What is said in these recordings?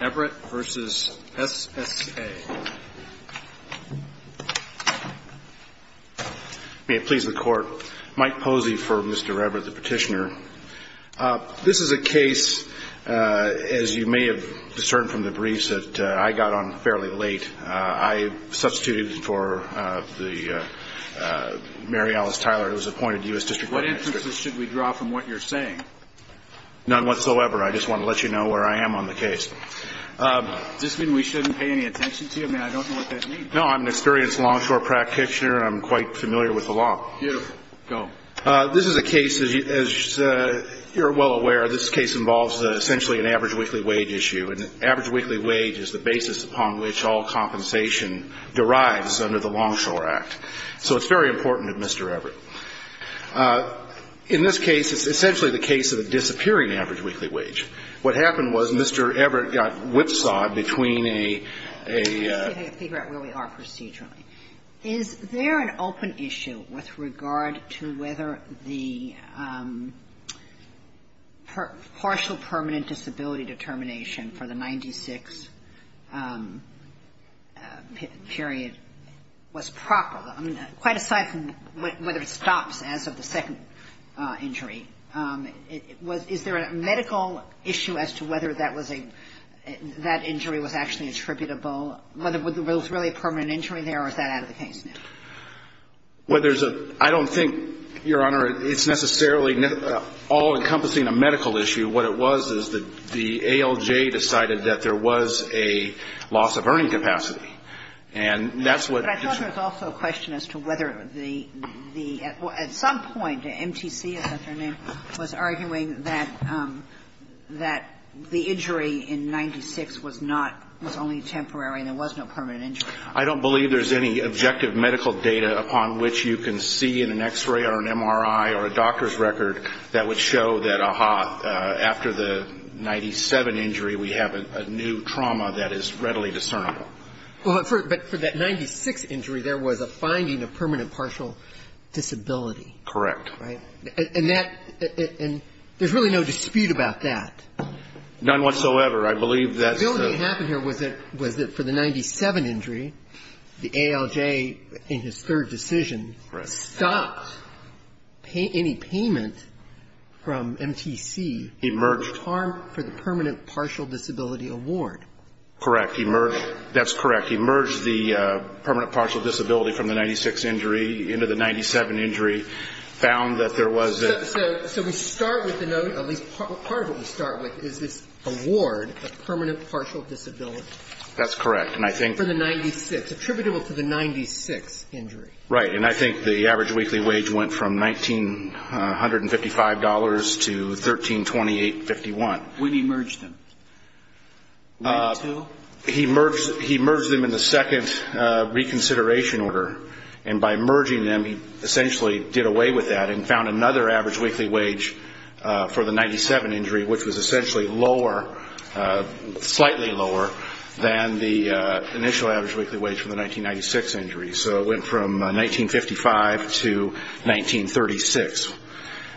EBBRETT v. SSA May it please the Court. Mike Posey for Mr. Ebbrett, the petitioner. This is a case, as you may have discerned from the briefs, that I got on fairly late. I substituted for Mary Alice Tyler, who was appointed U.S. District Attorney. What inferences should we draw from what you're saying? None whatsoever. I just want to let you know where I am on the case. Does this mean we shouldn't pay any attention to you? I mean, I don't know what that means. No, I'm an experienced longshore practitioner. I'm quite familiar with the law. Beautiful. Go. This is a case, as you're well aware, this case involves essentially an average weekly wage issue, and average weekly wage is the basis upon which all compensation derives under the Longshore Act. So it's very important to Mr. Ebbrett. In this case, it's essentially the case of a disappearing average weekly wage. What happened was Mr. Ebbrett got whipsawed between a — Let me figure out where we are procedurally. Is there an open issue with regard to whether the partial permanent disability determination for the 1996 period was proper? I mean, quite aside from whether it stops as of the second injury, is there a medical issue as to whether that injury was actually attributable, whether it was really a permanent injury there or is that out of the case now? Well, there's a — I don't think, Your Honor, it's necessarily all encompassing a medical issue. What it was is that the ALJ decided that there was a loss of earning capacity, and that's what — But I thought there was also a question as to whether the — at some point, MTC, temporary and there was no permanent injury. I don't believe there's any objective medical data upon which you can see in an X-ray or an MRI or a doctor's record that would show that, aha, after the 97 injury, we have a new trauma that is readily discernible. Well, but for that 96 injury, there was a finding of permanent partial disability. Correct. Right? And that — and there's really no dispute about that. None whatsoever. I believe that's the — What happened here was that for the 97 injury, the ALJ, in his third decision, stopped any payment from MTC. He merged — For the permanent partial disability award. Correct. He merged — that's correct. He merged the permanent partial disability from the 96 injury into the 97 injury, found that there was a — So we start with the note — at least part of what we start with is this award of permanent partial disability. That's correct. And I think — For the 96. Attributable to the 96 injury. Right. And I think the average weekly wage went from $1,955 to $1,328.51. When he merged them? He merged them in the second reconsideration order. And by merging them, he essentially did away with that and found another average weekly wage for the 97 injury, which was essentially lower — slightly lower than the initial average weekly wage for the 1996 injury. So it went from $1,955 to $1,936.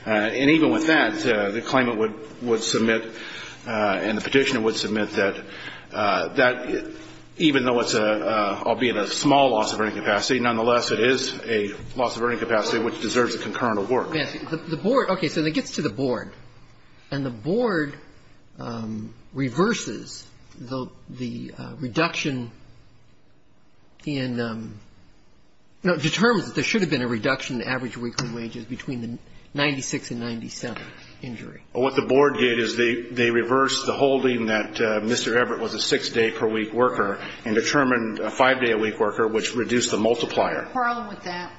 And even with that, the claimant would submit and the petitioner would submit that even though it's a — it's a disability, nonetheless, it is a loss of earning capacity which deserves a concurrent award. Yes. The board — okay. So it gets to the board, and the board reverses the reduction in — no, determines that there should have been a reduction in average weekly wages between the 96 and 97 injury. Well, what the board did is they reversed the holding that Mr. Everett was a six-day per week worker and determined a five-day a week worker, which reduced the multiplier. Are you quarreling with that?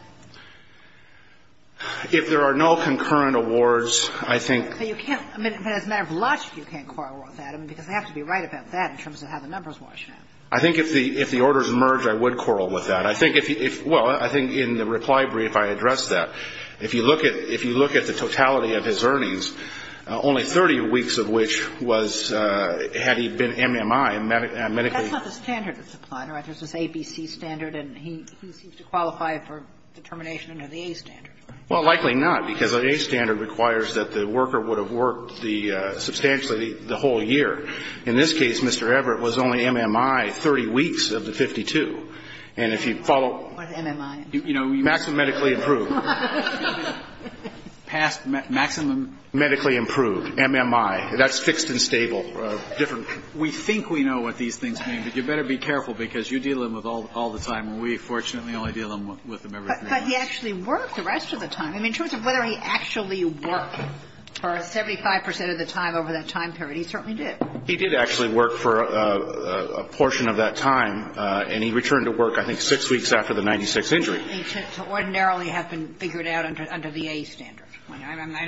If there are no concurrent awards, I think — But you can't — I mean, as a matter of logic, you can't quarrel with that. I mean, because they have to be right about that in terms of how the numbers wash out. I think if the — if the orders merge, I would quarrel with that. I think if — well, I think in the reply brief I addressed that. If you look at — if you look at the totality of his earnings, only 30 weeks of which was — had he been MMI and medically — That's not the standard that's applied, right? There's this ABC standard, and he seems to qualify for determination under the A standard. Well, likely not, because the A standard requires that the worker would have worked the — substantially the whole year. In this case, Mr. Everett was only MMI 30 weeks of the 52. What is MMI? You know, you — Maximum medically improved. Past maximum medically improved. MMI. That's fixed and stable. Different. We think we know what these things mean, but you better be careful, because you deal with them all the time, and we fortunately only deal with them every three months. But he actually worked the rest of the time. I mean, in terms of whether he actually worked for 75 percent of the time over that time period, he certainly did. He did actually work for a portion of that time, and he returned to work, I think, 6 weeks after the 96th injury. He should ordinarily have been figured out under the A standard.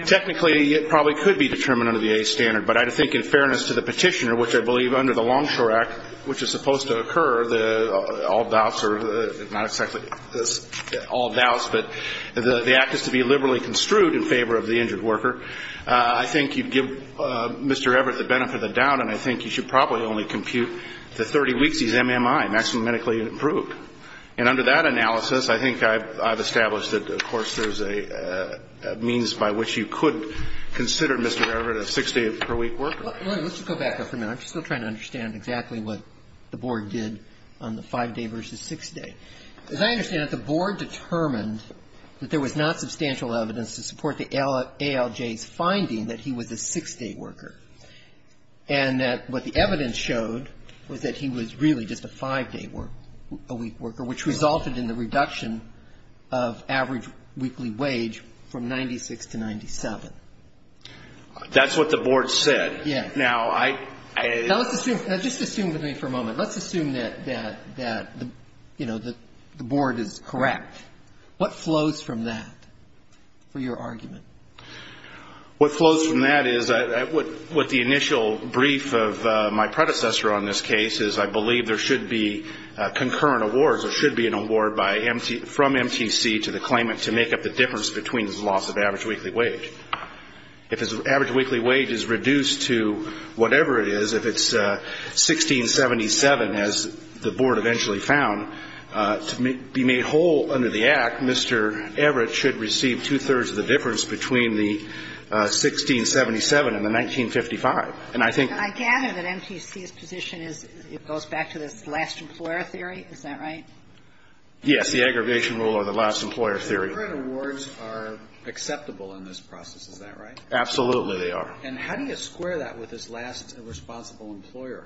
Technically, it probably could be determined under the A standard, but I think in fairness to the Petitioner, which I believe under the Longshore Act, which is supposed to occur, all doubts are — not exactly all doubts, but the act is to be liberally construed in favor of the injured worker. I think you'd give Mr. Everett the benefit of the doubt, and I think you should probably only compute the 30 weeks he's MMI, maximum medically improved. And under that analysis, I think I've established that, of course, there's a means by which you could consider Mr. Everett a 6-day-per-week worker. Well, let's just go back there for a minute. I'm still trying to understand exactly what the Board did on the 5-day versus 6-day. As I understand it, the Board determined that there was not substantial evidence to support the ALJ's finding that he was a 6-day worker, and that what the evidence showed was that he was really just a 5-day worker, a week worker, which resulted in the reduction of average weekly wage from 96 to 97. That's what the Board said. Yes. Now, I — Now, just assume with me for a moment. Let's assume that, you know, the Board is correct. What flows from that for your argument? What flows from that is what the initial brief of my predecessor on this case is I believe there should be concurrent awards. There should be an award from MTC to the claimant to make up the difference between his loss of average weekly wage. If his average weekly wage is reduced to whatever it is, if it's 1677, as the Board eventually found, to be made whole under the Act, Mr. Everett should receive two-thirds of the difference between the 1677 and the 1955. And I think — I gather that MTC's position is it goes back to this last employer theory. Is that right? Yes. The aggravation rule or the last employer theory. Concurrent awards are acceptable in this process. Is that right? Absolutely, they are. And how do you square that with this last responsible employer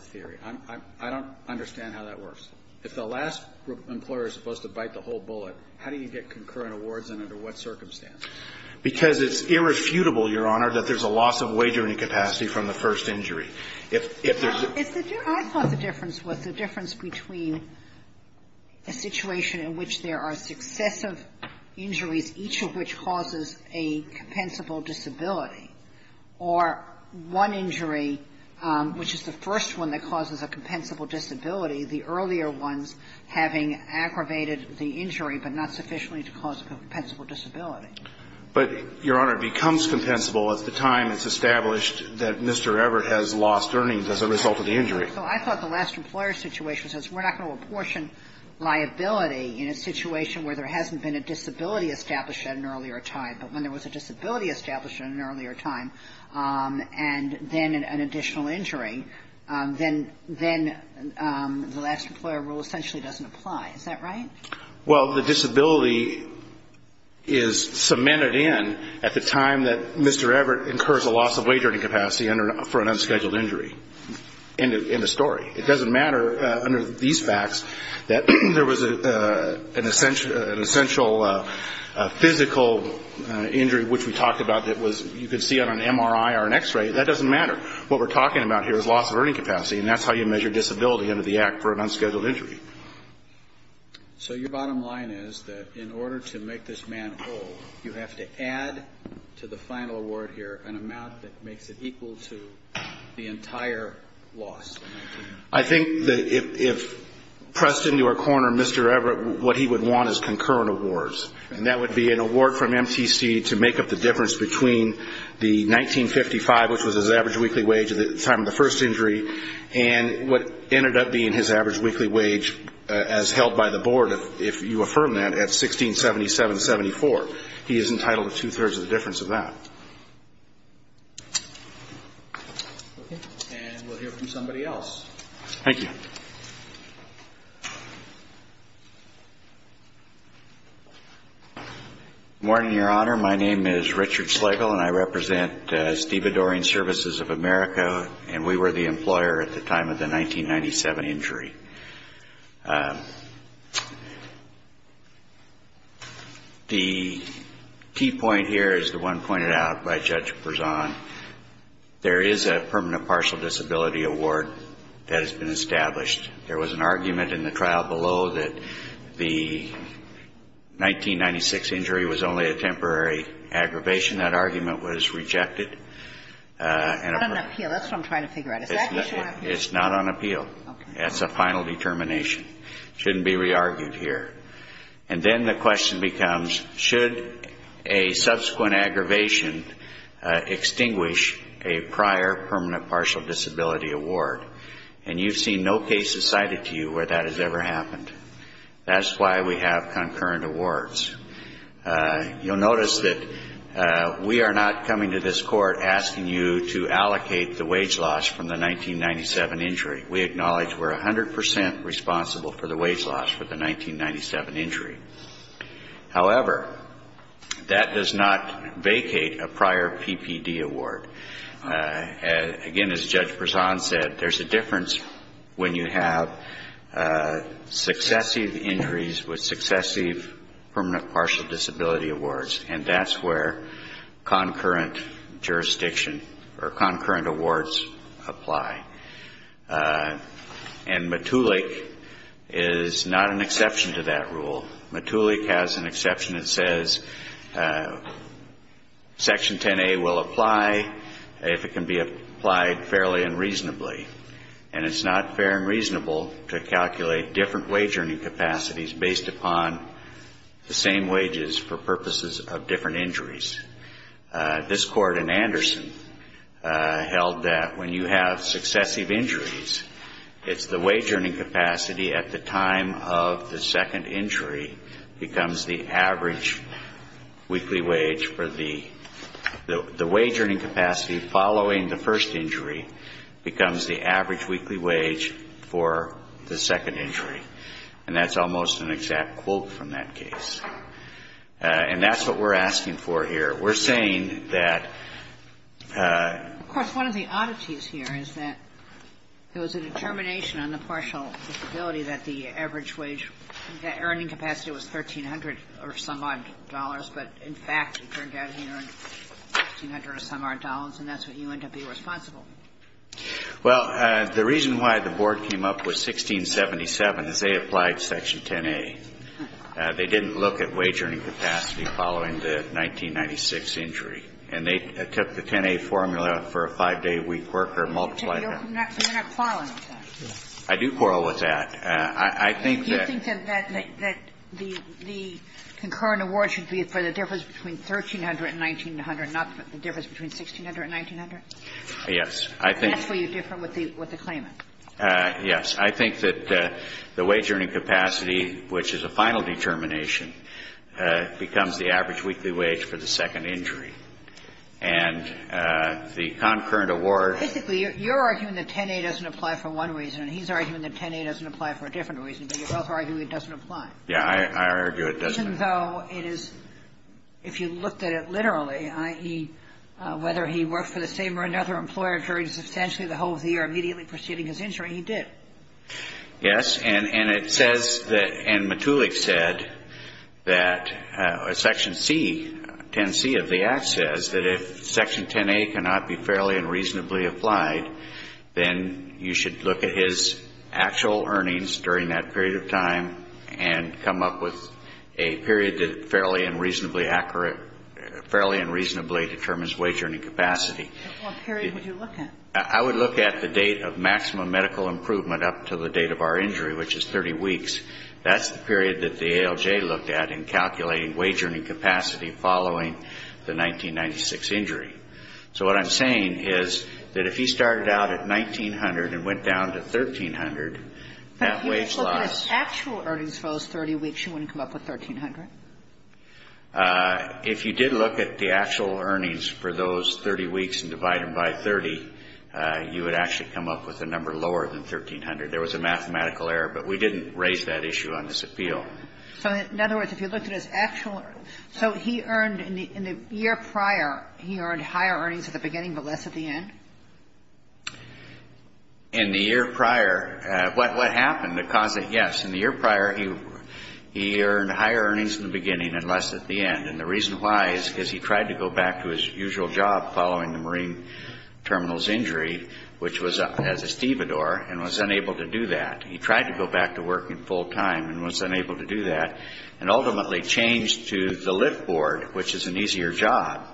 theory? I don't understand how that works. If the last employer is supposed to bite the whole bullet, how do you get concurrent awards and under what circumstances? Because it's irrefutable, Your Honor, that there's a loss of wagering capacity from the first injury. If there's a — I thought the difference was the difference between a situation in which there are successive injuries, each of which causes a compensable disability, or one injury, which is the first one that causes a compensable disability, the earlier ones having aggravated the injury but not sufficiently to cause a compensable disability. But, Your Honor, it becomes compensable at the time it's established that Mr. Everett has lost earnings as a result of the injury. So I thought the last employer situation says we're not going to apportion liability in a situation where there hasn't been a disability established at an earlier time. But when there was a disability established at an earlier time and then an additional injury, then the last employer rule essentially doesn't apply. Is that right? Well, the disability is cemented in at the time that Mr. Everett incurs a loss of wagering capacity for an unscheduled injury in the story. It doesn't matter under these facts that there was an essential physical injury, which we talked about that was — you could see on an MRI or an X-ray. That doesn't matter. What we're talking about here is loss of earning capacity, and that's how you measure disability under the Act for an unscheduled injury. So your bottom line is that in order to make this man whole, you have to add to the final award here an amount that makes it equal to the entire loss? I think that if pressed into a corner, Mr. Everett, what he would want is concurrent awards, and that would be an award from MTC to make up the difference between the 1955, which was his average weekly wage at the time of the first injury, and what ended up being his average weekly wage as held by the board, if you affirm that, at 1677.74. He is entitled to two-thirds of the difference of that. And we'll hear from somebody else. Thank you. Good morning, Your Honor. My name is Richard Slegel, and I represent Steve Adoring Services of America, and we were the employer at the time of the 1997 injury. The key point here is the one pointed out by Judge Perzan. There is a permanent partial disability award that has been established. There was an argument in the trial below that the 1996 injury was only a temporary aggravation. That argument was rejected. It's not on appeal. That's what I'm trying to figure out. Is that what you're asking? It's not on appeal. Okay. That's a final determination. It shouldn't be re-argued here. And then the question becomes, should a subsequent aggravation extinguish a prior permanent partial disability award? And you've seen no cases cited to you where that has ever happened. That's why we have concurrent awards. You'll notice that we are not coming to this Court asking you to allocate the wage loss from the 1997 injury. We acknowledge we're 100 percent responsible for the wage loss for the 1997 injury. However, that does not vacate a prior PPD award. Again, as Judge Perzan said, there's a difference when you have successive injuries with successive permanent partial disability awards. And that's where concurrent jurisdiction or concurrent awards apply. And MTULIC is not an exception to that rule. MTULIC has an exception that says Section 10A will apply if it can be applied fairly and reasonably. And it's not fair and reasonable to calculate different wage earning capacities based upon the same wages for purposes of different injuries. This Court in Anderson held that when you have successive injuries, it's the wage earning capacity at the time of the second injury becomes the average weekly wage for the wage earning capacity following the first injury becomes the average weekly wage for the second injury. And that's almost an exact quote from that case. And that's what we're asking for here. We're saying that ---- That earning capacity was $1,300 or some odd dollars. But, in fact, it turned out he earned $1,300 or some odd dollars. And that's what you end up being responsible for. Well, the reason why the board came up with 1677 is they applied Section 10A. They didn't look at wage earning capacity following the 1996 injury. And they took the 10A formula for a 5-day week worker and multiplied it. You're not quarreling with that. I do quarrel with that. I think that ---- Do you think that the concurrent award should be for the difference between 1,300 and 1,900, not the difference between 1,600 and 1,900? Yes. That's where you differ with the claimant. Yes. I think that the wage earning capacity, which is a final determination, becomes the average weekly wage for the second injury. And the concurrent award ---- Basically, you're arguing that 10A doesn't apply for one reason, and he's arguing that 10A doesn't apply for a different reason. But you both argue it doesn't apply. Yes. I argue it doesn't. Even though it is, if you looked at it literally, i.e., whether he worked for the same or another employer during substantially the whole of the year immediately preceding his injury, he did. Yes. And it says that ---- and Matulak said that Section C, 10C of the Act says that if Section 10A cannot be fairly and reasonably applied, then you should look at his actual earnings during that period of time and come up with a period that fairly and reasonably determines wage earning capacity. What period would you look at? I would look at the date of maximum medical improvement up to the date of our injury, which is 30 weeks. That's the period that the ALJ looked at in calculating wage earning capacity following the 1996 injury. So what I'm saying is that if he started out at 1,900 and went down to 1,300, that wage loss ---- But if you just look at his actual earnings for those 30 weeks, you wouldn't come up with 1,300? If you did look at the actual earnings for those 30 weeks and divide them by 30, you would actually come up with a number lower than 1,300. There was a mathematical error, but we didn't raise that issue on this appeal. So in other words, if you looked at his actual ---- So he earned, in the year prior, he earned higher earnings at the beginning but less at the end? In the year prior, what happened to cause it? Yes. In the year prior, he earned higher earnings in the beginning and less at the end. And the reason why is because he tried to go back to his usual job following the Marine Terminal's injury, which was as a stevedore, and was unable to do that. He tried to go back to working full-time and was unable to do that, and ultimately changed to the lift board, which is an easier job.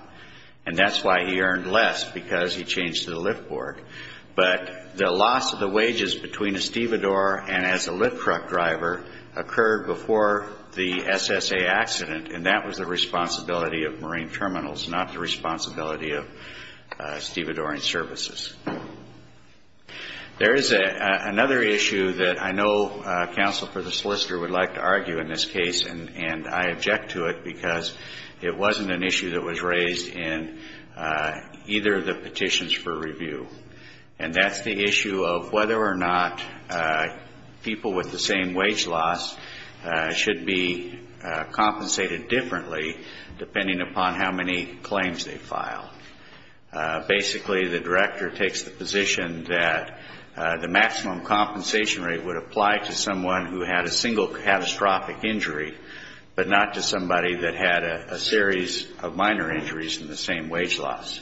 And that's why he earned less, because he changed to the lift board. But the loss of the wages between a stevedore and as a lift truck driver occurred before the SSA accident, and that was the responsibility of Marine Terminals, not the responsibility of stevedoring services. There is another issue that I know counsel for the solicitor would like to argue in this case, and I object to it because it wasn't an issue that was raised in either of the petitions for review. And that's the issue of whether or not people with the same wage loss should be compensated differently depending upon how many claims they file. Basically, the director takes the position that the maximum compensation rate would apply to someone who had a single catastrophic injury, but not to somebody that had a series of minor injuries and the same wage loss.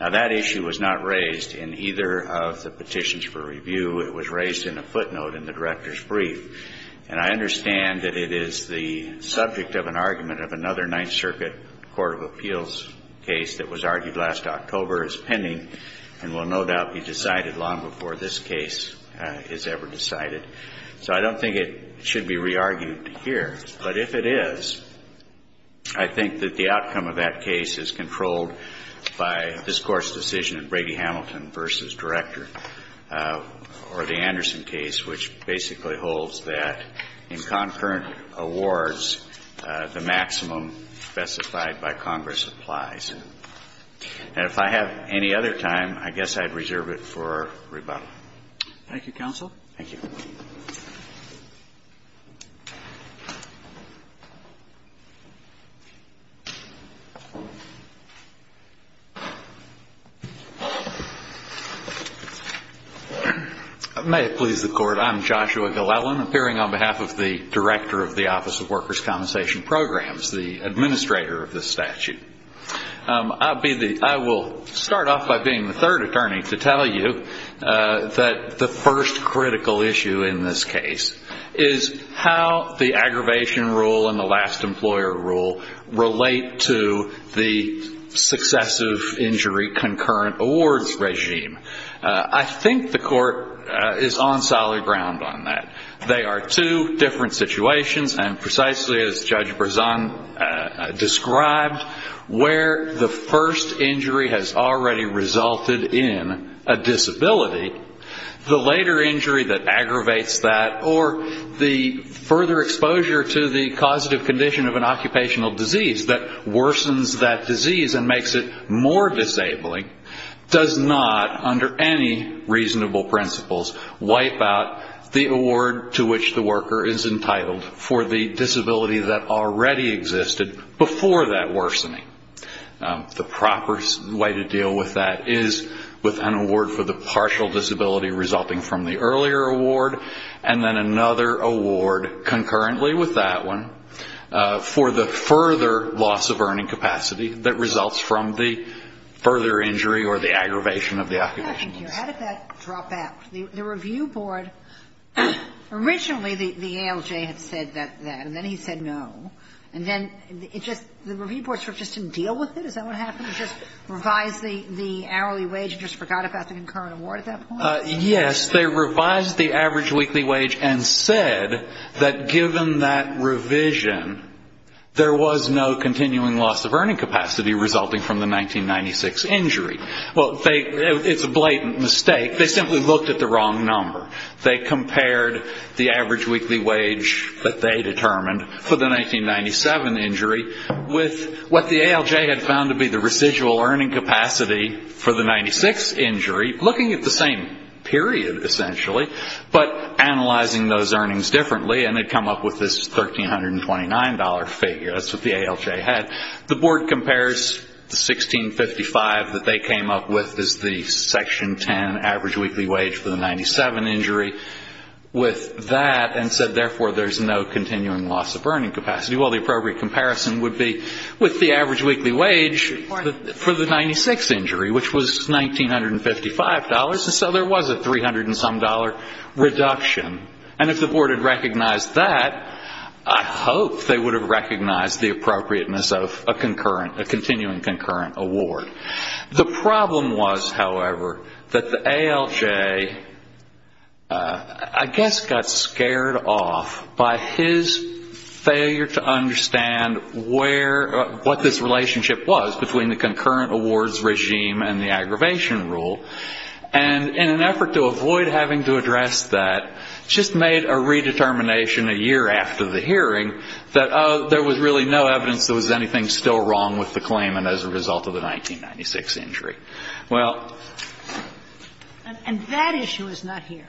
Now, that issue was not raised in either of the petitions for review. It was raised in a footnote in the director's brief. And I understand that it is the subject of an argument of another Ninth Circuit Court of Appeals case that was argued last October as pending and will no doubt be decided long before this case is ever decided. So I don't think it should be re-argued here. But if it is, I think that the outcome of that case is controlled by this Court's decision in Brady-Hamilton v. Director or the Anderson case, which basically holds that in concurrent awards, the maximum specified by Congress applies. And if I have any other time, I guess I'd reserve it for rebuttal. Thank you, counsel. Thank you. May it please the Court. I'm Joshua Gillelan, appearing on behalf of the director of the Office of Workers' Compensation Programs, the administrator of this statute. I will start off by being the third attorney to tell you that the first critical issue in this case is how the aggravation rule and the last employer rule relate to the successive injury concurrent awards regime. I think the Court is on solid ground on that. They are two different situations. And precisely as Judge Brezan described, where the first injury has already resulted in a disability, the later injury that aggravates that or the further exposure to the causative condition of an occupational disease that worsens that under any reasonable principles wipe out the award to which the worker is entitled for the disability that already existed before that worsening. The proper way to deal with that is with an award for the partial disability resulting from the earlier award and then another award concurrently with that one for the further loss of earning capacity that results from the further injury or the aggravation of the occupational disease. Yeah, thank you. How did that drop out? The review board, originally the ALJ had said that, and then he said no. And then it just the review board sort of just didn't deal with it? Is that what happened? It just revised the hourly wage and just forgot about the concurrent award at that point? Yes. They revised the average weekly wage and said that given that revision, there was no continuing loss of earning capacity resulting from the 1996 injury. Well, it's a blatant mistake. They simply looked at the wrong number. They compared the average weekly wage that they determined for the 1997 injury with what the ALJ had found to be the residual earning capacity for the 96 injury, looking at the same period, essentially, but analyzing those earnings differently, and they'd come up with this $1,329 figure. That's what the ALJ had. The board compares the $1,655 that they came up with as the Section 10 average weekly wage for the 97 injury with that and said, therefore, there's no continuing loss of earning capacity. Well, the appropriate comparison would be with the average weekly wage for the 96 injury, which was $1,955, and so there was a $300-and-some reduction. And if the board had recognized that, I hope they would have recognized the appropriateness of a continuing concurrent award. The problem was, however, that the ALJ, I guess, got scared off by his failure to understand what this relationship was between the concurrent awards regime and the aggravation rule. And in an effort to avoid having to address that, just made a redetermination a year after the hearing that, oh, there was really no evidence there was anything still wrong with the claimant as a result of the 1996 injury. Well ---- And that issue is not here.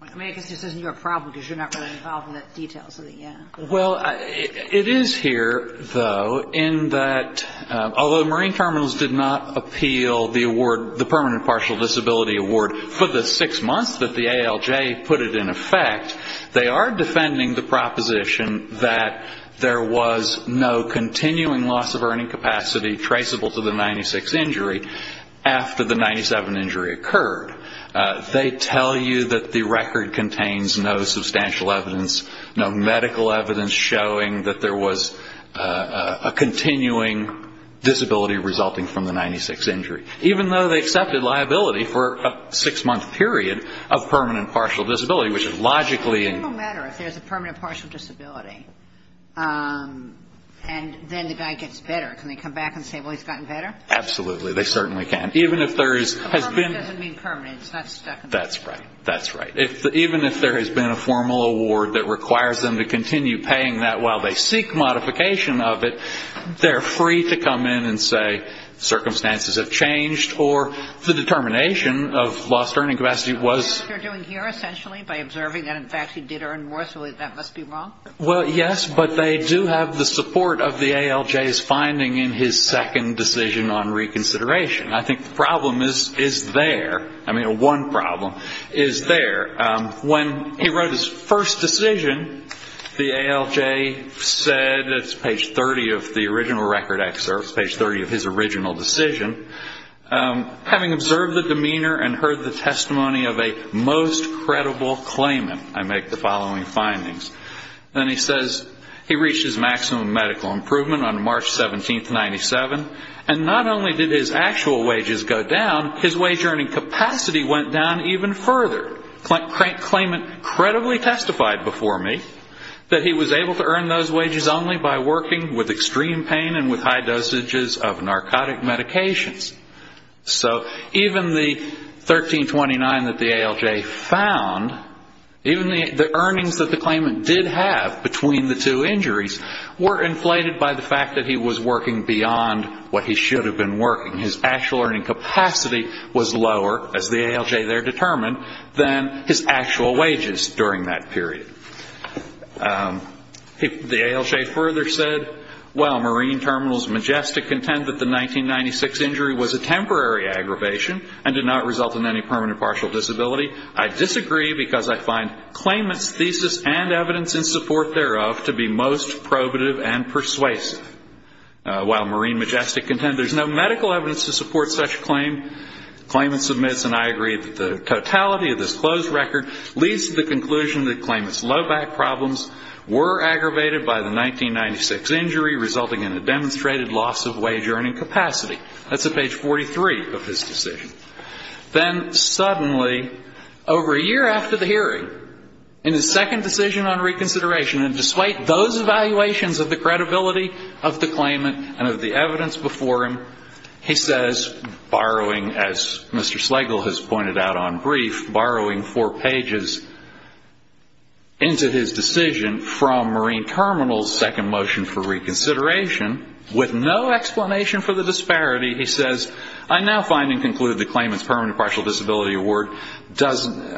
I mean, I guess this isn't your problem because you're not really involved in the details of it yet. Well, it is here, though, in that although the Marine terminals did not appeal the award, the permanent partial disability award, for the six months that the ALJ put it in effect, they are defending the proposition that there was no continuing loss of earning capacity traceable to the 96 injury after the 97 injury occurred. They tell you that the record contains no substantial evidence, no medical evidence showing that there was a continuing disability resulting from the 96 injury, even though they accepted liability for a six-month period of permanent partial disability, which is logically ---- It doesn't matter if there's a permanent partial disability. And then the guy gets better. Can they come back and say, well, he's gotten better? Absolutely. They certainly can. Even if there has been ---- Permanent doesn't mean permanent. It's not stuck in there. That's right. That's right. Even if there has been a formal award that requires them to continue paying that while they seek modification of it, they're free to come in and say circumstances have changed or the determination of lost earning capacity was ---- What they're doing here essentially by observing that in fact he did earn more, so that must be wrong? Well, yes, but they do have the support of the ALJ's finding in his second decision on reconsideration. I think the problem is there. I mean, one problem is there. When he wrote his first decision, the ALJ said, it's page 30 of the original record excerpt, page 30 of his original decision, having observed the demeanor and heard the testimony of a most credible claimant, I make the following findings. Then he says he reached his maximum medical improvement on March 17, 1997, and not only did his actual wages go down, his wage earning capacity went down even further. Claimant credibly testified before me that he was able to earn those wages only by working with extreme pain and with high dosages of narcotic medications. So even the 1329 that the ALJ found, even the earnings that the claimant did have between the two injuries were inflated by the fact that he was working beyond what he should have been working. His actual earning capacity was lower, as the ALJ there determined, than his actual wages during that period. The ALJ further said, while Marine Terminals Majestic contend that the 1996 injury was a temporary aggravation and did not result in any permanent partial disability, I disagree because I find claimant's thesis and evidence in support thereof to be most probative and persuasive. While Marine Majestic contend there's no medical evidence to support such claim, claimant submits and I agree that the totality of this closed record leads to the conclusion that his low back problems were aggravated by the 1996 injury, resulting in a demonstrated loss of wage earning capacity. That's at page 43 of his decision. Then suddenly, over a year after the hearing, in his second decision on reconsideration, and despite those evaluations of the credibility of the claimant and of the evidence before him, he says, borrowing, as Mr. Slegel has said, into his decision from Marine Terminals second motion for reconsideration, with no explanation for the disparity, he says, I now find and conclude the claimant's permanent partial disability award doesn't,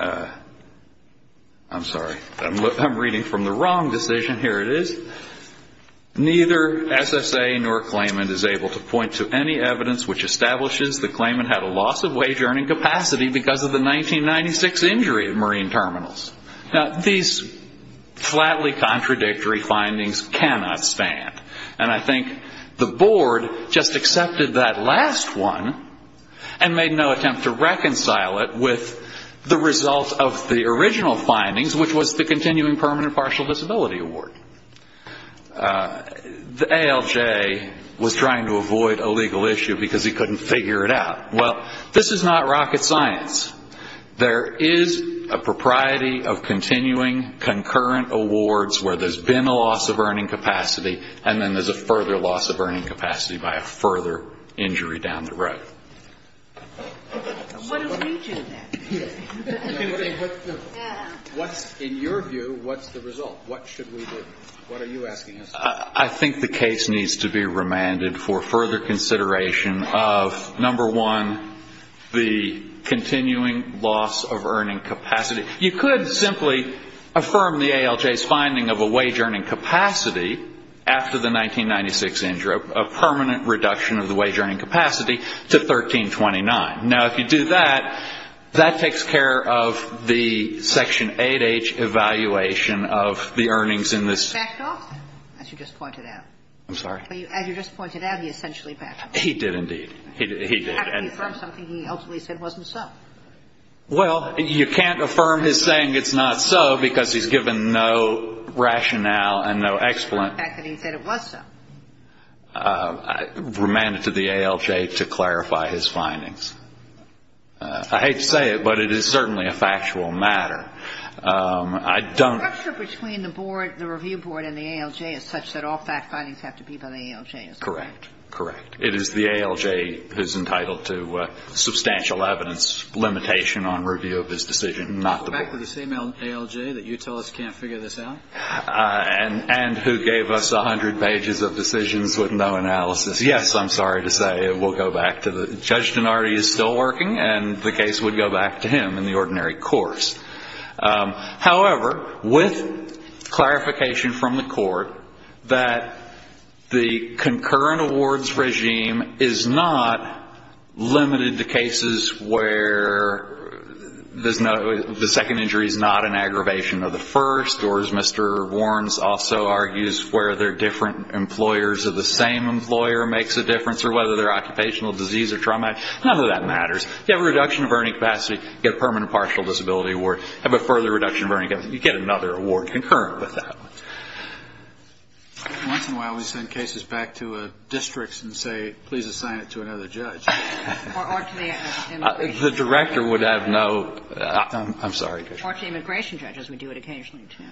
I'm sorry, I'm reading from the wrong decision, here it is, neither SSA nor claimant is able to point to any evidence which establishes the claimant had a loss of wage earning capacity because of the 1996 injury at Marine Terminals. Now, these flatly contradictory findings cannot stand. And I think the board just accepted that last one and made no attempt to reconcile it with the results of the original findings, which was the continuing permanent partial disability award. The ALJ was trying to avoid a legal issue because he couldn't figure it out. Well, this is not rocket science. There is a propriety of continuing concurrent awards where there's been a loss of earning capacity, and then there's a further loss of earning capacity by a further injury down the road. What do we do then? In your view, what's the result? What should we do? What are you asking us to do? You could simply affirm the ALJ's finding of a wage earning capacity after the 1996 injury, a permanent reduction of the wage earning capacity to 1329. Now, if you do that, that takes care of the Section 8H evaluation of the earnings in this. He backed off, as you just pointed out. I'm sorry? As you just pointed out, he essentially backed off. He did indeed. He did. He affirmed something he ultimately said wasn't so. Well, you can't affirm his saying it's not so because he's given no rationale and no explanation. The fact that he said it was so. I remand it to the ALJ to clarify his findings. I hate to say it, but it is certainly a factual matter. The structure between the board, the review board, and the ALJ is such that all fact findings have to be by the ALJ. Correct. Correct. It is the ALJ who's entitled to substantial evidence limitation on review of this decision, not the board. The fact that it's the same ALJ that you tell us can't figure this out? And who gave us 100 pages of decisions with no analysis. Yes, I'm sorry to say, we'll go back to the judge. Judge Dinardi is still working, and the case would go back to him in the ordinary course. However, with clarification from the court that the concurrent awards regime is not limited to cases where the second injury is not an aggravation of the first, or as Mr. Warrens also argues, where they're different employers of the same employer makes a difference, or whether they're occupational disease or trauma, none of that matters. You have a reduction of earning capacity, you get a permanent partial disability award. Have a further reduction of earning capacity, you get another award concurrent with that one. Once in a while we send cases back to districts and say, please assign it to another judge. Or to the immigration judge. The director would have no, I'm sorry. Or to the immigration judge, as we do it occasionally, too.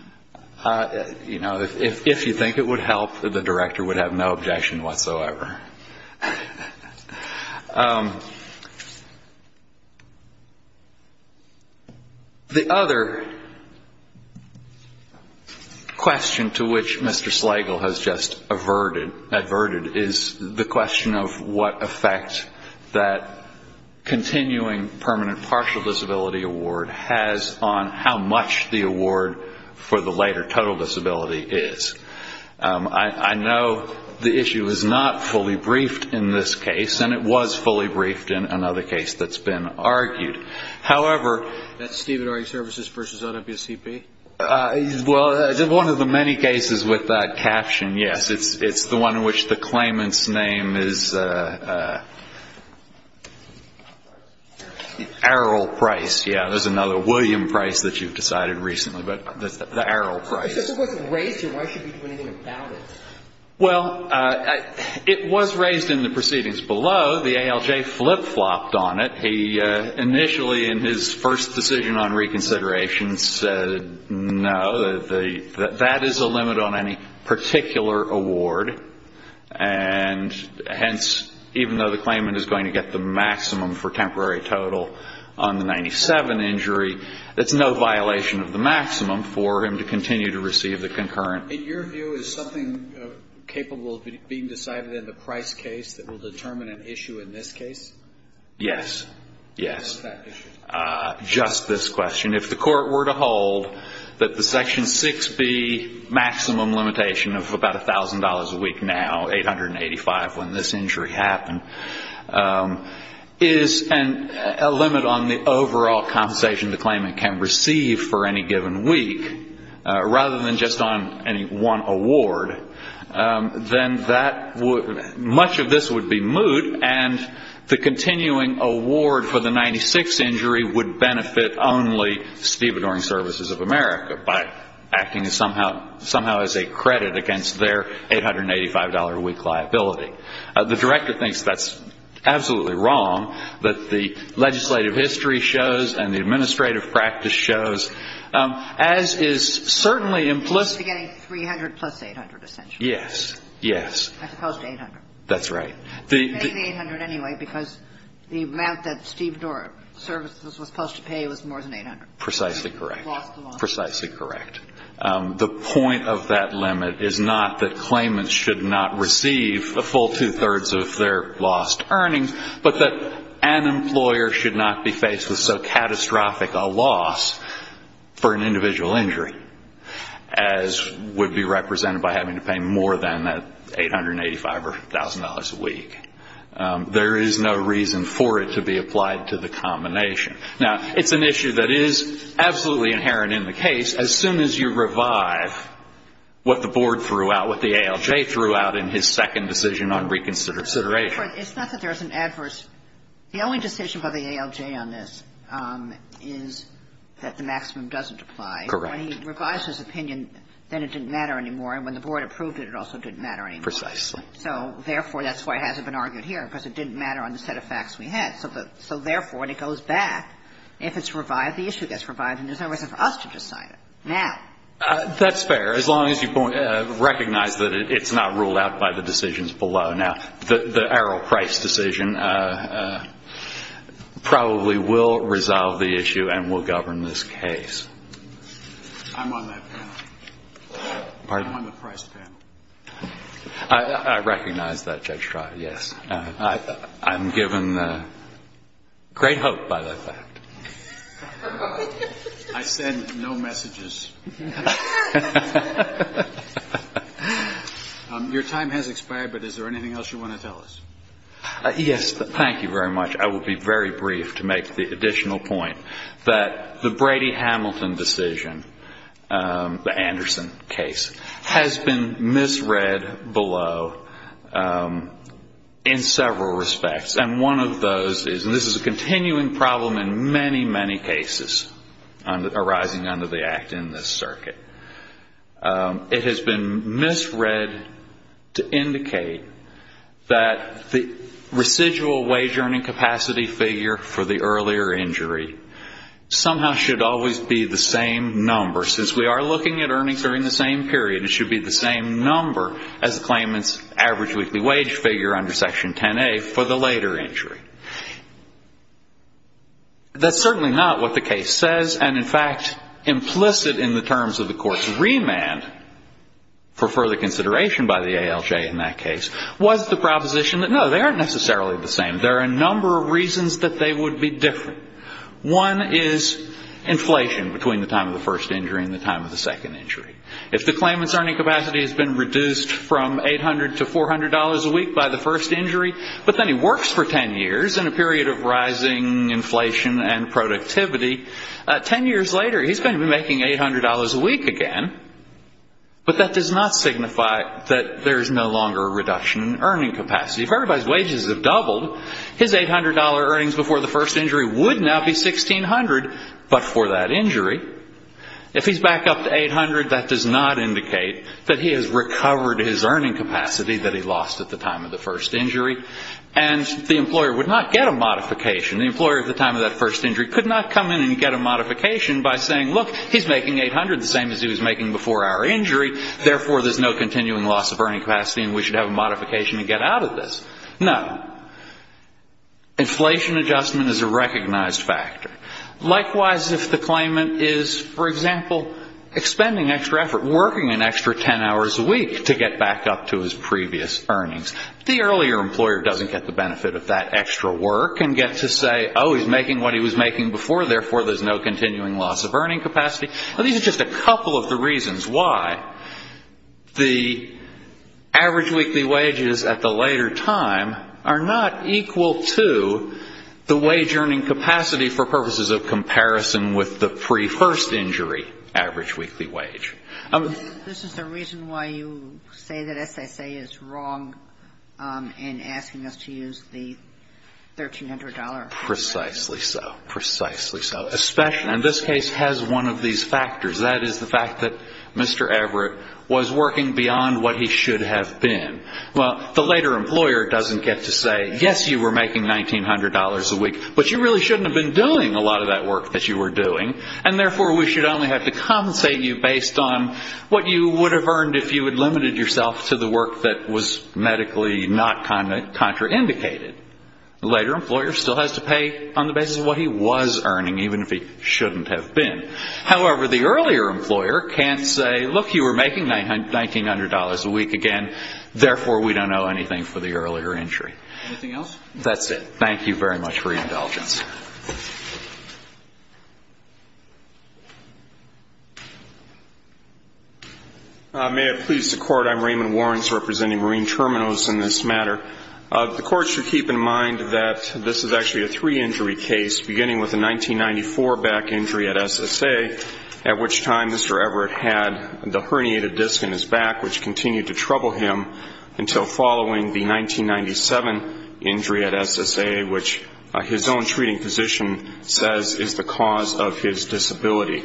You know, if you think it would help, the director would have no objection whatsoever. The other question to which Mr. Slagle has just adverted is the question of what effect that continuing permanent partial disability award has on how much the award for the later total disability is. I know the issue is not fully briefed in this case, and it was fully briefed in another case that's been argued. However. That's Stephen Army Services versus OWCP? Well, one of the many cases with that caption, yes. It's the one in which the claimant's name is Errol Price. Yeah, there's another. William Price that you've decided recently. But the Errol Price. If it wasn't raised here, why should we do anything about it? Well, it was raised in the proceedings below. The ALJ flip-flopped on it. He initially, in his first decision on reconsideration, said no. That is a limit on any particular award. And hence, even though the claimant is going to get the maximum for temporary total on the 97 injury, it's no violation of the maximum for him to continue to receive the concurrent. In your view, is something capable of being decided in the Price case that will determine an issue in this case? Yes. Yes. What is that issue? Just this question. If the Court were to hold that the Section 6B maximum limitation of about $1,000 a week now, $885 when this injury happened, is a limit on the overall compensation the claimant can receive for any given week, rather than just on any one award, then much of this would be moot, and the continuing award for the 96 injury would benefit only Stevedoring Services of America by acting somehow as a credit against their $885 a week liability. The Director thinks that's absolutely wrong, that the legislative history shows and the administrative practice shows, as is certainly implicit. He's getting $300,000 plus $800,000, essentially. Yes. As opposed to $800,000. That's right. He's getting the $800,000 anyway because the amount that Stevedoring Services was supposed to pay was more than $800,000. Precisely correct. It lost the loss. Precisely correct. The point of that limit is not that claimants should not receive a full two-thirds of their lost earnings, but that an employer should not be faced with so catastrophic a loss for an individual injury, as would be represented by having to pay more than that $885,000 a week. There is no reason for it to be applied to the combination. Now, it's an issue that is absolutely inherent in the case. As soon as you revive what the board threw out, what the ALJ threw out in his second decision on reconsideration. It's not that there's an adverse. The only decision by the ALJ on this is that the maximum doesn't apply. Correct. When he revised his opinion, then it didn't matter anymore. And when the board approved it, it also didn't matter anymore. Precisely. So, therefore, that's why it hasn't been argued here, because it didn't matter on the set of facts we had. So, therefore, when it goes back, if it's revived, the issue gets revived, and there's no reason for us to decide it now. That's fair. As long as you recognize that it's not ruled out by the decisions below. Now, the Errol Price decision probably will resolve the issue and will govern this case. I'm on that panel. Pardon? I'm on the Price panel. I recognize that, Judge Trotter, yes. I'm given great hope by that fact. I send no messages. Your time has expired, but is there anything else you want to tell us? Yes. Thank you very much. I will be very brief to make the additional point that the Brady-Hamilton decision, the Anderson case, has been misread below in several respects. And one of those is, and this is a continuing problem in many, many cases arising under the act in this circuit, it has been misread to indicate that the residual wage earning capacity figure for the earlier injury somehow should always be the same number. Since we are looking at earnings during the same period, it should be the same number as the claimant's average weekly wage figure under Section 10A for the later injury. That's certainly not what the case says. And, in fact, implicit in the terms of the Court's remand for further consideration by the ALJ in that case was the proposition that, no, they aren't necessarily the same. There are a number of reasons that they would be different. One is inflation between the time of the first injury and the time of the second injury. If the claimant's earning capacity has been reduced from $800 to $400 a week by the first injury, but then he works for 10 years in a period of rising inflation and productivity, 10 years later he's going to be making $800 a week again. But that does not signify that there is no longer a reduction in earning capacity. If everybody's wages have doubled, his $800 earnings before the first injury would now be $1,600, but for that injury. If he's back up to $800, that does not indicate that he has recovered his earning capacity that he lost at the time of the first injury, and the employer would not get a modification. The employer at the time of that first injury could not come in and get a modification by saying, look, he's making $800 the same as he was making before our injury, therefore there's no continuing loss of earning capacity and we should have a modification to get out of this. No. Inflation adjustment is a recognized factor. Likewise, if the claimant is, for example, expending extra effort, working an extra 10 hours a week to get back up to his previous earnings, the earlier employer doesn't get the benefit of that extra work and get to say, oh, he's making what he was making before, therefore there's no continuing loss of earning capacity. These are just a couple of the reasons why the average weekly wages at the later time are not equal to the wage earning capacity for purposes of comparison with the pre-first injury average weekly wage. This is the reason why you say that SSA is wrong in asking us to use the $1,300. Precisely so. Precisely so. And this case has one of these factors. That is the fact that Mr. Everett was working beyond what he should have been. Well, the later employer doesn't get to say, yes, you were making $1,900 a week, but you really shouldn't have been doing a lot of that work that you were doing, and therefore we should only have to compensate you based on what you would have earned if you had limited yourself to the work that was medically not contraindicated. The later employer still has to pay on the basis of what he was earning, even if he shouldn't have been. However, the earlier employer can't say, look, you were making $1,900 a week again, therefore we don't owe anything for the earlier injury. Anything else? That's it. Thank you very much for your indulgence. May it please the Court, I'm Raymond Warrens representing Marine Terminals in this matter. The Court should keep in mind that this is actually a three-injury case, beginning with a 1994 back injury at SSA, at which time Mr. Everett had the herniated disc in his back, which continued to trouble him until following the 1997 injury at SSA, which his own treating physician says is the cause of his disability.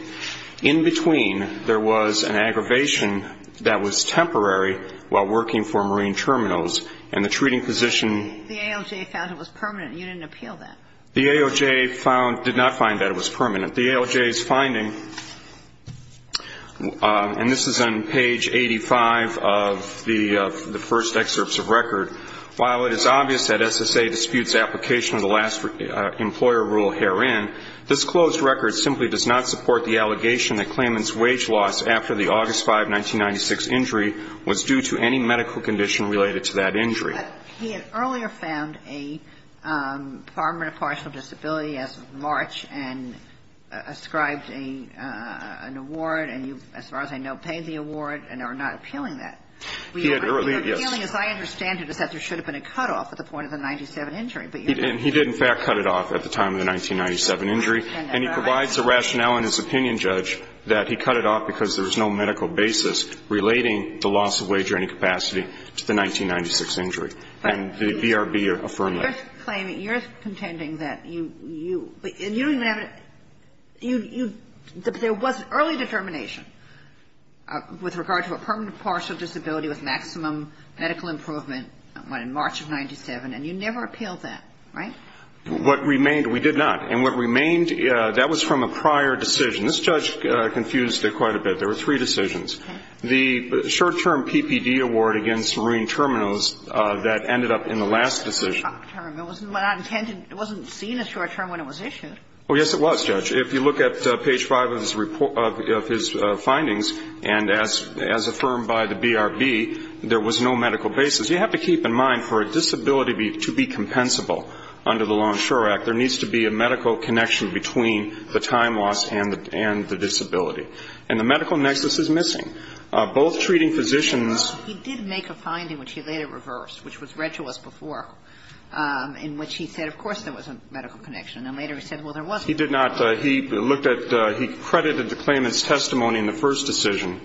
In between, there was an aggravation that was temporary while working for Marine Terminals, and the treating physician ---- The AOJ found it was permanent. You didn't appeal that. The AOJ did not find that it was permanent. The AOJ's finding, and this is on page 85 of the first excerpts of record, while it is obvious that SSA disputes application of the last employer rule herein, this closed record simply does not support the allegation that Clayman's wage loss after the August 5, 1996 injury was due to any medical condition related to that injury. But he had earlier found a permanent partial disability as of March and ascribed an award, and you, as far as I know, paid the award and are not appealing that. He had earlier, yes. The appealing, as I understand it, is that there should have been a cutoff at the point of the 1997 injury. And he did, in fact, cut it off at the time of the 1997 injury. And he provides a rationale in his opinion, Judge, that he cut it off because there was no medical basis relating the loss of wage or any capacity to the 1996 injury. And the BRB affirmed that. But you're claiming, you're contending that you ---- there was early determination with regard to a permanent partial disability with maximum medical improvement in March of 1997, and you never appealed that, right? What remained, we did not. And what remained, that was from a prior decision. This judge confused it quite a bit. There were three decisions. The short-term PPD award against Marine Terminals that ended up in the last decision. It wasn't intended, it wasn't seen as short-term when it was issued. Oh, yes, it was, Judge. If you look at page 5 of his findings, and as affirmed by the BRB, there was no medical basis. You have to keep in mind for a disability to be compensable under the Longshore Act, there needs to be a medical connection between the time loss and the disability. And the medical nexus is missing. Both treating physicians ---- He did make a finding which he later reversed, which was read to us before, in which he said, of course there was a medical connection. And then later he said, well, there wasn't. He did not, he looked at, he credited the claimant's testimony in the first decision,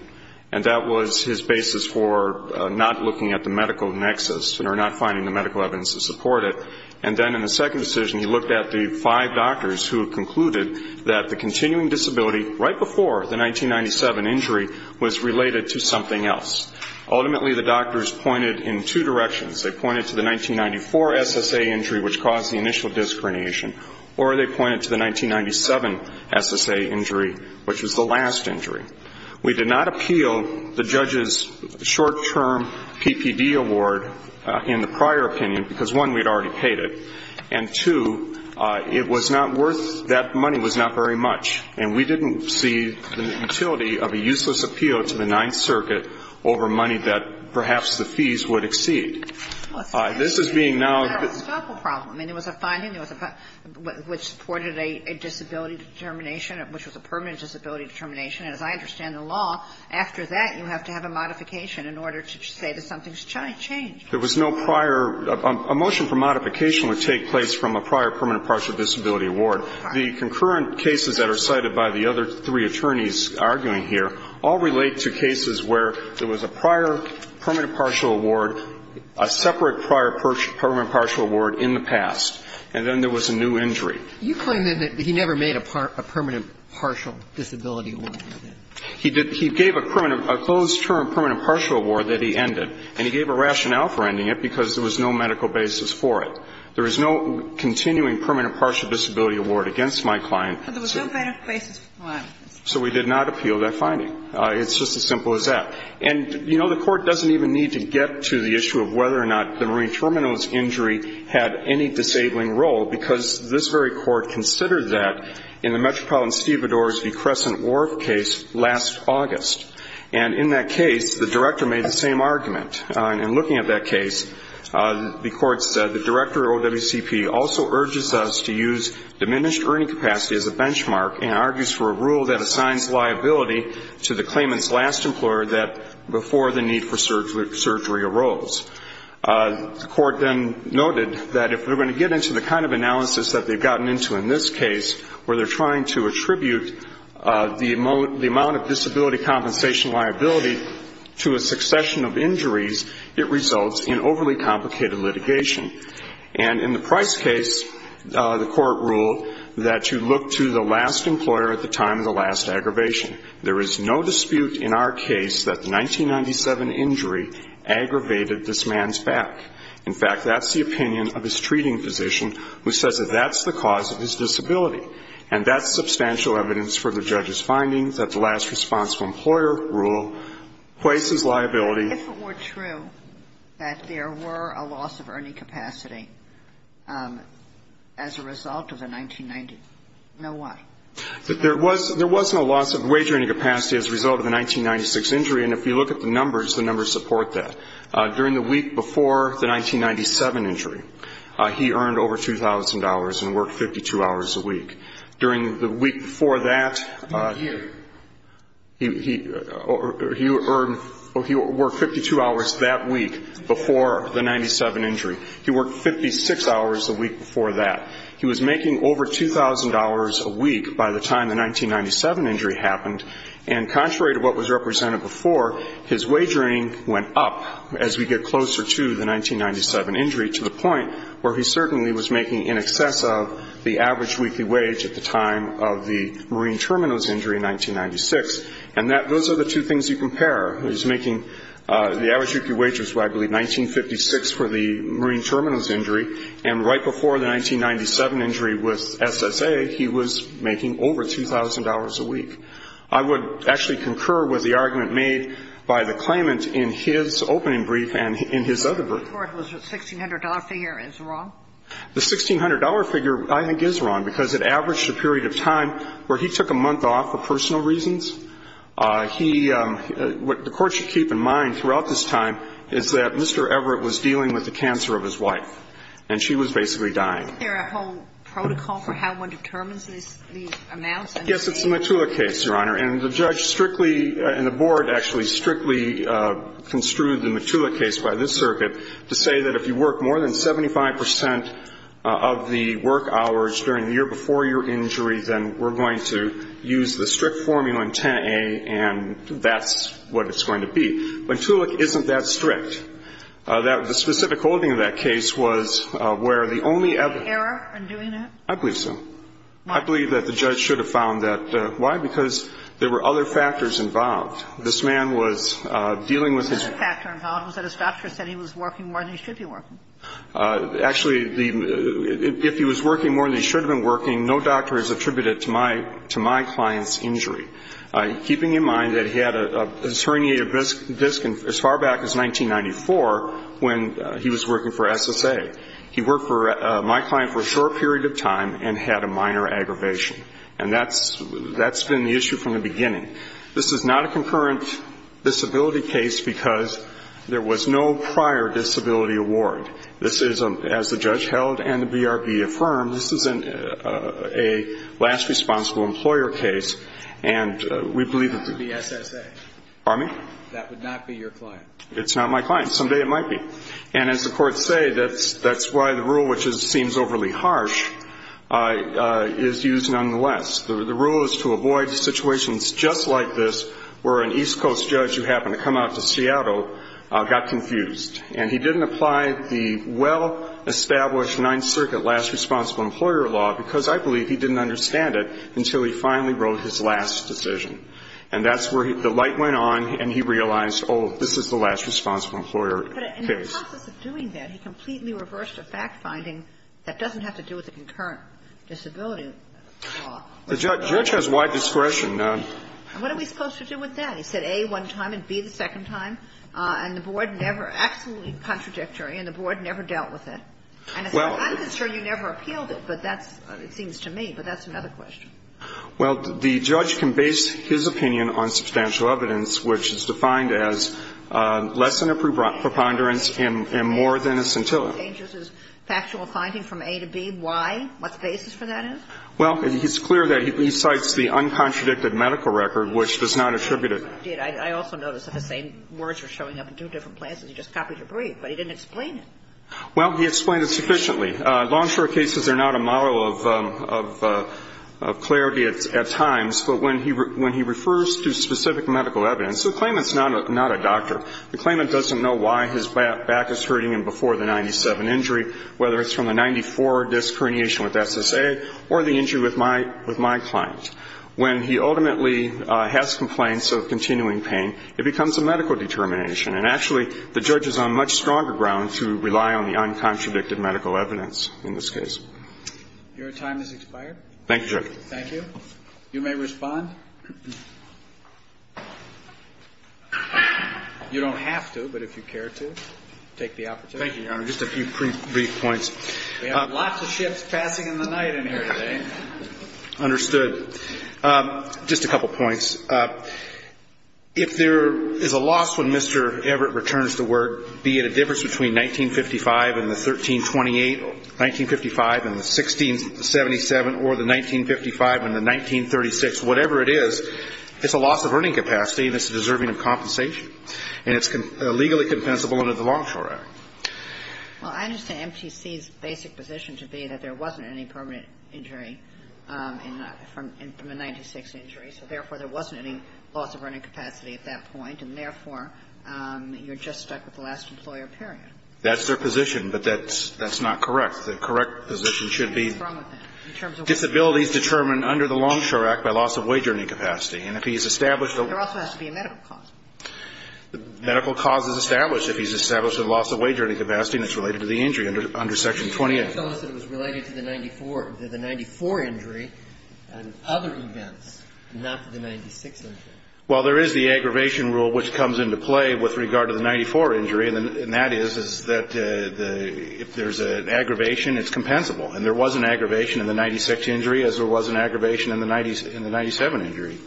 and that was his basis for not looking at the medical nexus, or not finding the medical evidence to support it. And then in the second decision, he looked at the five doctors who had concluded that the continuing disability, right before the 1997 injury, was related to something else. Ultimately, the doctors pointed in two directions. They pointed to the 1994 SSA injury, which caused the initial disc herniation, or they pointed to the 1997 SSA injury, which was the last injury. We did not appeal the judge's short-term PPD award in the prior opinion, because, one, we had already paid it, and, two, it was not worth, that money was not very much, and we didn't see the utility of a useless appeal to the Ninth Circuit over money that perhaps the fees would exceed. This is being now ---- It's a philosophical problem. I mean, there was a finding, there was a, which supported a disability determination, which was a permanent disability determination. And as I understand the law, after that, you have to have a modification in order to say that something's changed. There was no prior, a motion for modification would take place from a prior permanent partial disability award. The concurrent cases that are cited by the other three attorneys arguing here all relate to cases where there was a prior permanent partial award, a separate prior permanent partial award in the past, and then there was a new injury. You claim, then, that he never made a permanent partial disability award. He did. He gave a permanent, a closed-term permanent partial award that he ended, and he gave a rationale for ending it, because there was no medical basis for it. There is no continuing permanent partial disability award against my client. But there was no medical basis for filing it. So we did not appeal that finding. It's just as simple as that. And, you know, the court doesn't even need to get to the issue of whether or not the Marine Terminal's injury had any disabling role, because this very court considered that in the Metropolitan Stevedores v. Crescent Wharf case last August. And in that case, the director made the same argument. In looking at that case, the court said, The director of OWCP also urges us to use diminished earning capacity as a benchmark and argues for a rule that assigns liability to the claimant's last employer that, before the need for surgery arose. The court then noted that if we're going to get into the kind of analysis that they've gotten into in this case, where they're trying to attribute the amount of disability compensation liability to a succession of injuries, it results in overly complicated litigation. And in the Price case, the court ruled that you look to the last employer at the time of the last aggravation. There is no dispute in our case that the 1997 injury aggravated this man's back. In fact, that's the opinion of his treating physician, who says that that's the cause of his disability. And that's substantial evidence for the judge's findings that the last responsible employer rule places liability. If it were true that there were a loss of earning capacity as a result of a 1990, know why? There was no loss of wage earning capacity as a result of a 1996 injury. And if you look at the numbers, the numbers support that. During the week before the 1997 injury, he earned over $2,000 and worked 52 hours a week. During the week before that, he earned or he worked 52 hours that week before the 1997 injury. He worked 56 hours a week before that. He was making over $2,000 a week by the time the 1997 injury happened. And contrary to what was represented before, his wage earning went up as we get closer to the 1997 injury, to the point where he certainly was making in excess of the average weekly wage at the time of the Marine Terminals injury in 1996. And that those are the two things you compare. He was making the average weekly wage was, I believe, 1956 for the Marine Terminals injury, and right before the 1997 injury with SSA, he was making over $2,000 a week. I would actually concur with the argument made by the claimant in his opening brief and in his other brief. The $1,600 figure is wrong? The $1,600 figure, I think, is wrong, because it averaged a period of time where he took a month off for personal reasons. He – what the Court should keep in mind throughout this time is that Mr. Everett was dealing with the cancer of his wife, and she was basically dying. Isn't there a whole protocol for how one determines these amounts? Yes, it's the Matula case, Your Honor. And the judge strictly – and the board actually strictly construed the Matula case by this circuit to say that if you work more than 75 percent of the work hours during the year before your injury, then we're going to use the strict formula in 10a, and that's what it's going to be. Matula isn't that strict. The specific holding of that case was where the only ever – Any error in doing it? I believe so. Why? I believe that the judge should have found that. Why? Because there were other factors involved. This man was dealing with his – The other factor involved was that his doctor said he was working more than he should be working. Actually, the – if he was working more than he should have been working, no doctor has attributed it to my – to my client's injury. Keeping in mind that he had a herniated disc as far back as 1994 when he was working for SSA. He worked for my client for a short period of time and had a minor aggravation. And that's been the issue from the beginning. This is not a concurrent disability case because there was no prior disability award. This is, as the judge held and the BRB affirmed, this is a last responsible employer case, and we believe that the – It would be SSA. Pardon me? That would not be your client. It's not my client. Someday it might be. And as the courts say, that's why the rule, which seems overly harsh, is used nonetheless. The rule is to avoid situations just like this where an East Coast judge who happened to come out to Seattle got confused. And he didn't apply the well-established Ninth Circuit last responsible employer law because, I believe, he didn't understand it until he finally wrote his last decision. And that's where the light went on and he realized, oh, this is the last responsible employer case. In the process of doing that, he completely reversed a fact-finding that doesn't have to do with a concurrent disability law. The judge has wide discretion. And what are we supposed to do with that? He said A one time and B the second time, and the board never – absolutely contradictory, and the board never dealt with it. Well – And it's not my concern you never appealed it, but that's – it seems to me, but that's another question. Well, the judge can base his opinion on substantial evidence, which is defined as less than a preponderance and more than a scintilla. What changes his factual finding from A to B? Why? What's the basis for that is? Well, it's clear that he cites the uncontradicted medical record, which does not attribute it. It did. I also noticed that the same words were showing up in two different places. He just copied your brief, but he didn't explain it. Well, he explained it sufficiently. Long, short cases are not a model of clarity at times. But when he refers to specific medical evidence – so the claimant's not a doctor. The claimant doesn't know why his back is hurting him before the 97 injury, whether it's from the 94 disc herniation with SSA or the injury with my client. When he ultimately has complaints of continuing pain, it becomes a medical determination. And actually, the judge is on much stronger ground to rely on the uncontradicted medical evidence in this case. Your time has expired. Thank you, Judge. Thank you. You may respond. You don't have to, but if you care to, take the opportunity. Thank you, Your Honor. Just a few brief points. We have lots of ships passing in the night in here today. Understood. Just a couple points. If there is a loss when Mr. Everett returns to work, be it a difference between 1955 and the 1328, 1955 and the 1677, or the 1955 and the 1936, whatever it is, it's a loss of earning capacity and it's deserving of compensation. And it's legally compensable under the Longshore Act. Well, I understand MTC's basic position to be that there wasn't any permanent injury from a 96 injury. So, therefore, there wasn't any loss of earning capacity at that point. And, therefore, you're just stuck with the last employer, period. That's their position, but that's not correct. The correct position should be disabilities determined under the Longshore Act by loss of wage earning capacity. And if he's established a... There also has to be a medical cause. The medical cause is established if he's established a loss of wage earning capacity and it's related to the injury under Section 28. But you're telling us that it was related to the 94 injury and other events, not to the 96 injury. Well, there is the aggravation rule which comes into play with regard to the 94 injury, and that is that if there's an aggravation, it's compensable. And there was an aggravation in the 96 injury as there was an aggravation in the 97 injury.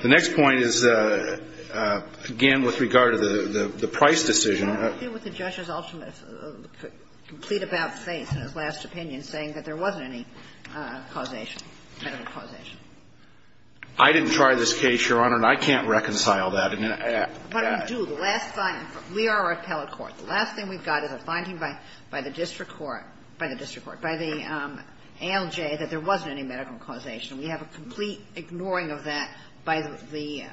The next point is, again, with regard to the price decision... What do you do with the judge's ultimate, complete about-face in his last opinion saying that there wasn't any causation, medical causation? I didn't try this case, Your Honor, and I can't reconcile that. But we do. The last finding. We are a repellent court. The last thing we've got is a finding by the district court, by the district court, by the ALJ, that there wasn't any medical causation. We have a complete ignoring of that by the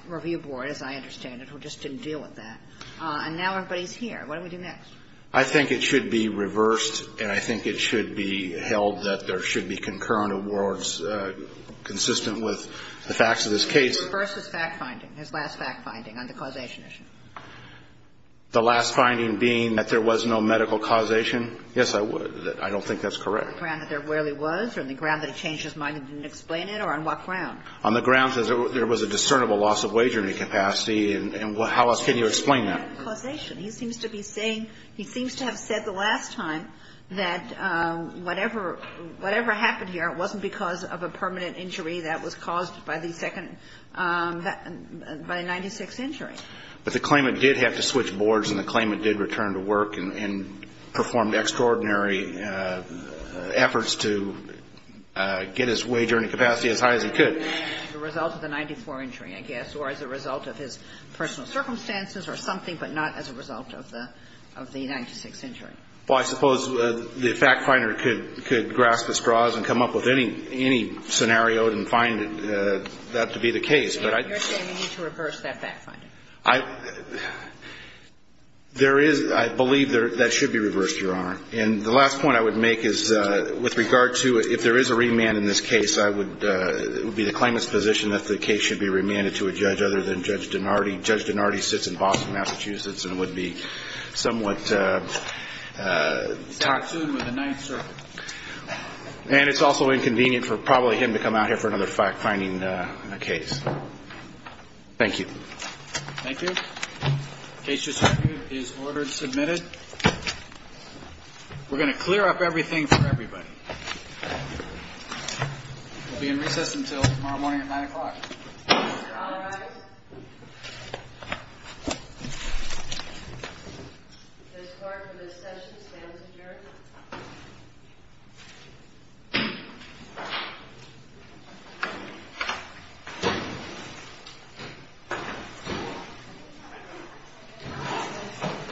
review board, as I understand it, who just didn't deal with that. And now everybody's here. What do we do next? I think it should be reversed, and I think it should be held that there should be concurrent awards consistent with the facts of this case. Reverse his fact-finding, his last fact-finding on the causation issue. The last finding being that there was no medical causation? Yes, I would. I don't think that's correct. On the ground that there really was, or on the ground that he changed his mind and didn't explain it, or on what ground? On the grounds that there was a discernible loss of wagering capacity, and how else can you explain that? I don't think that's correct. On the ground that there was no medical causation, he seems to be saying, he seems to have said the last time that whatever happened here, it wasn't because of a permanent injury that was caused by the second, by a 96 injury. But the claimant did have to switch boards, and the claimant did return to work and performed extraordinary efforts to get his wagering capacity as high as he could. And he did that as a result of the 94 injury, I guess, or as a result of his personal circumstances or something, but not as a result of the 96 injury. Well, I suppose the fact-finder could grasp his straws and come up with any scenario and find that to be the case, but I'd be... You're saying you need to reverse that fact-finding? I believe that should be reversed, Your Honor. And the last point I would make is with regard to if there is a remand in this case, I would, it would be the claimant's position that the case should be remanded to a judge other than Judge Donardi. Judge Donardi sits in Boston, Massachusetts, and would be somewhat... He's not sued with the Ninth Circuit. And it's also inconvenient for probably him to come out here for another fact-finding case. Thank you. Thank you. Case respective is ordered and submitted. We're going to clear up everything for everybody. We'll be in recess until tomorrow morning at 9 o'clock. All rise. This part of the session stands adjourned.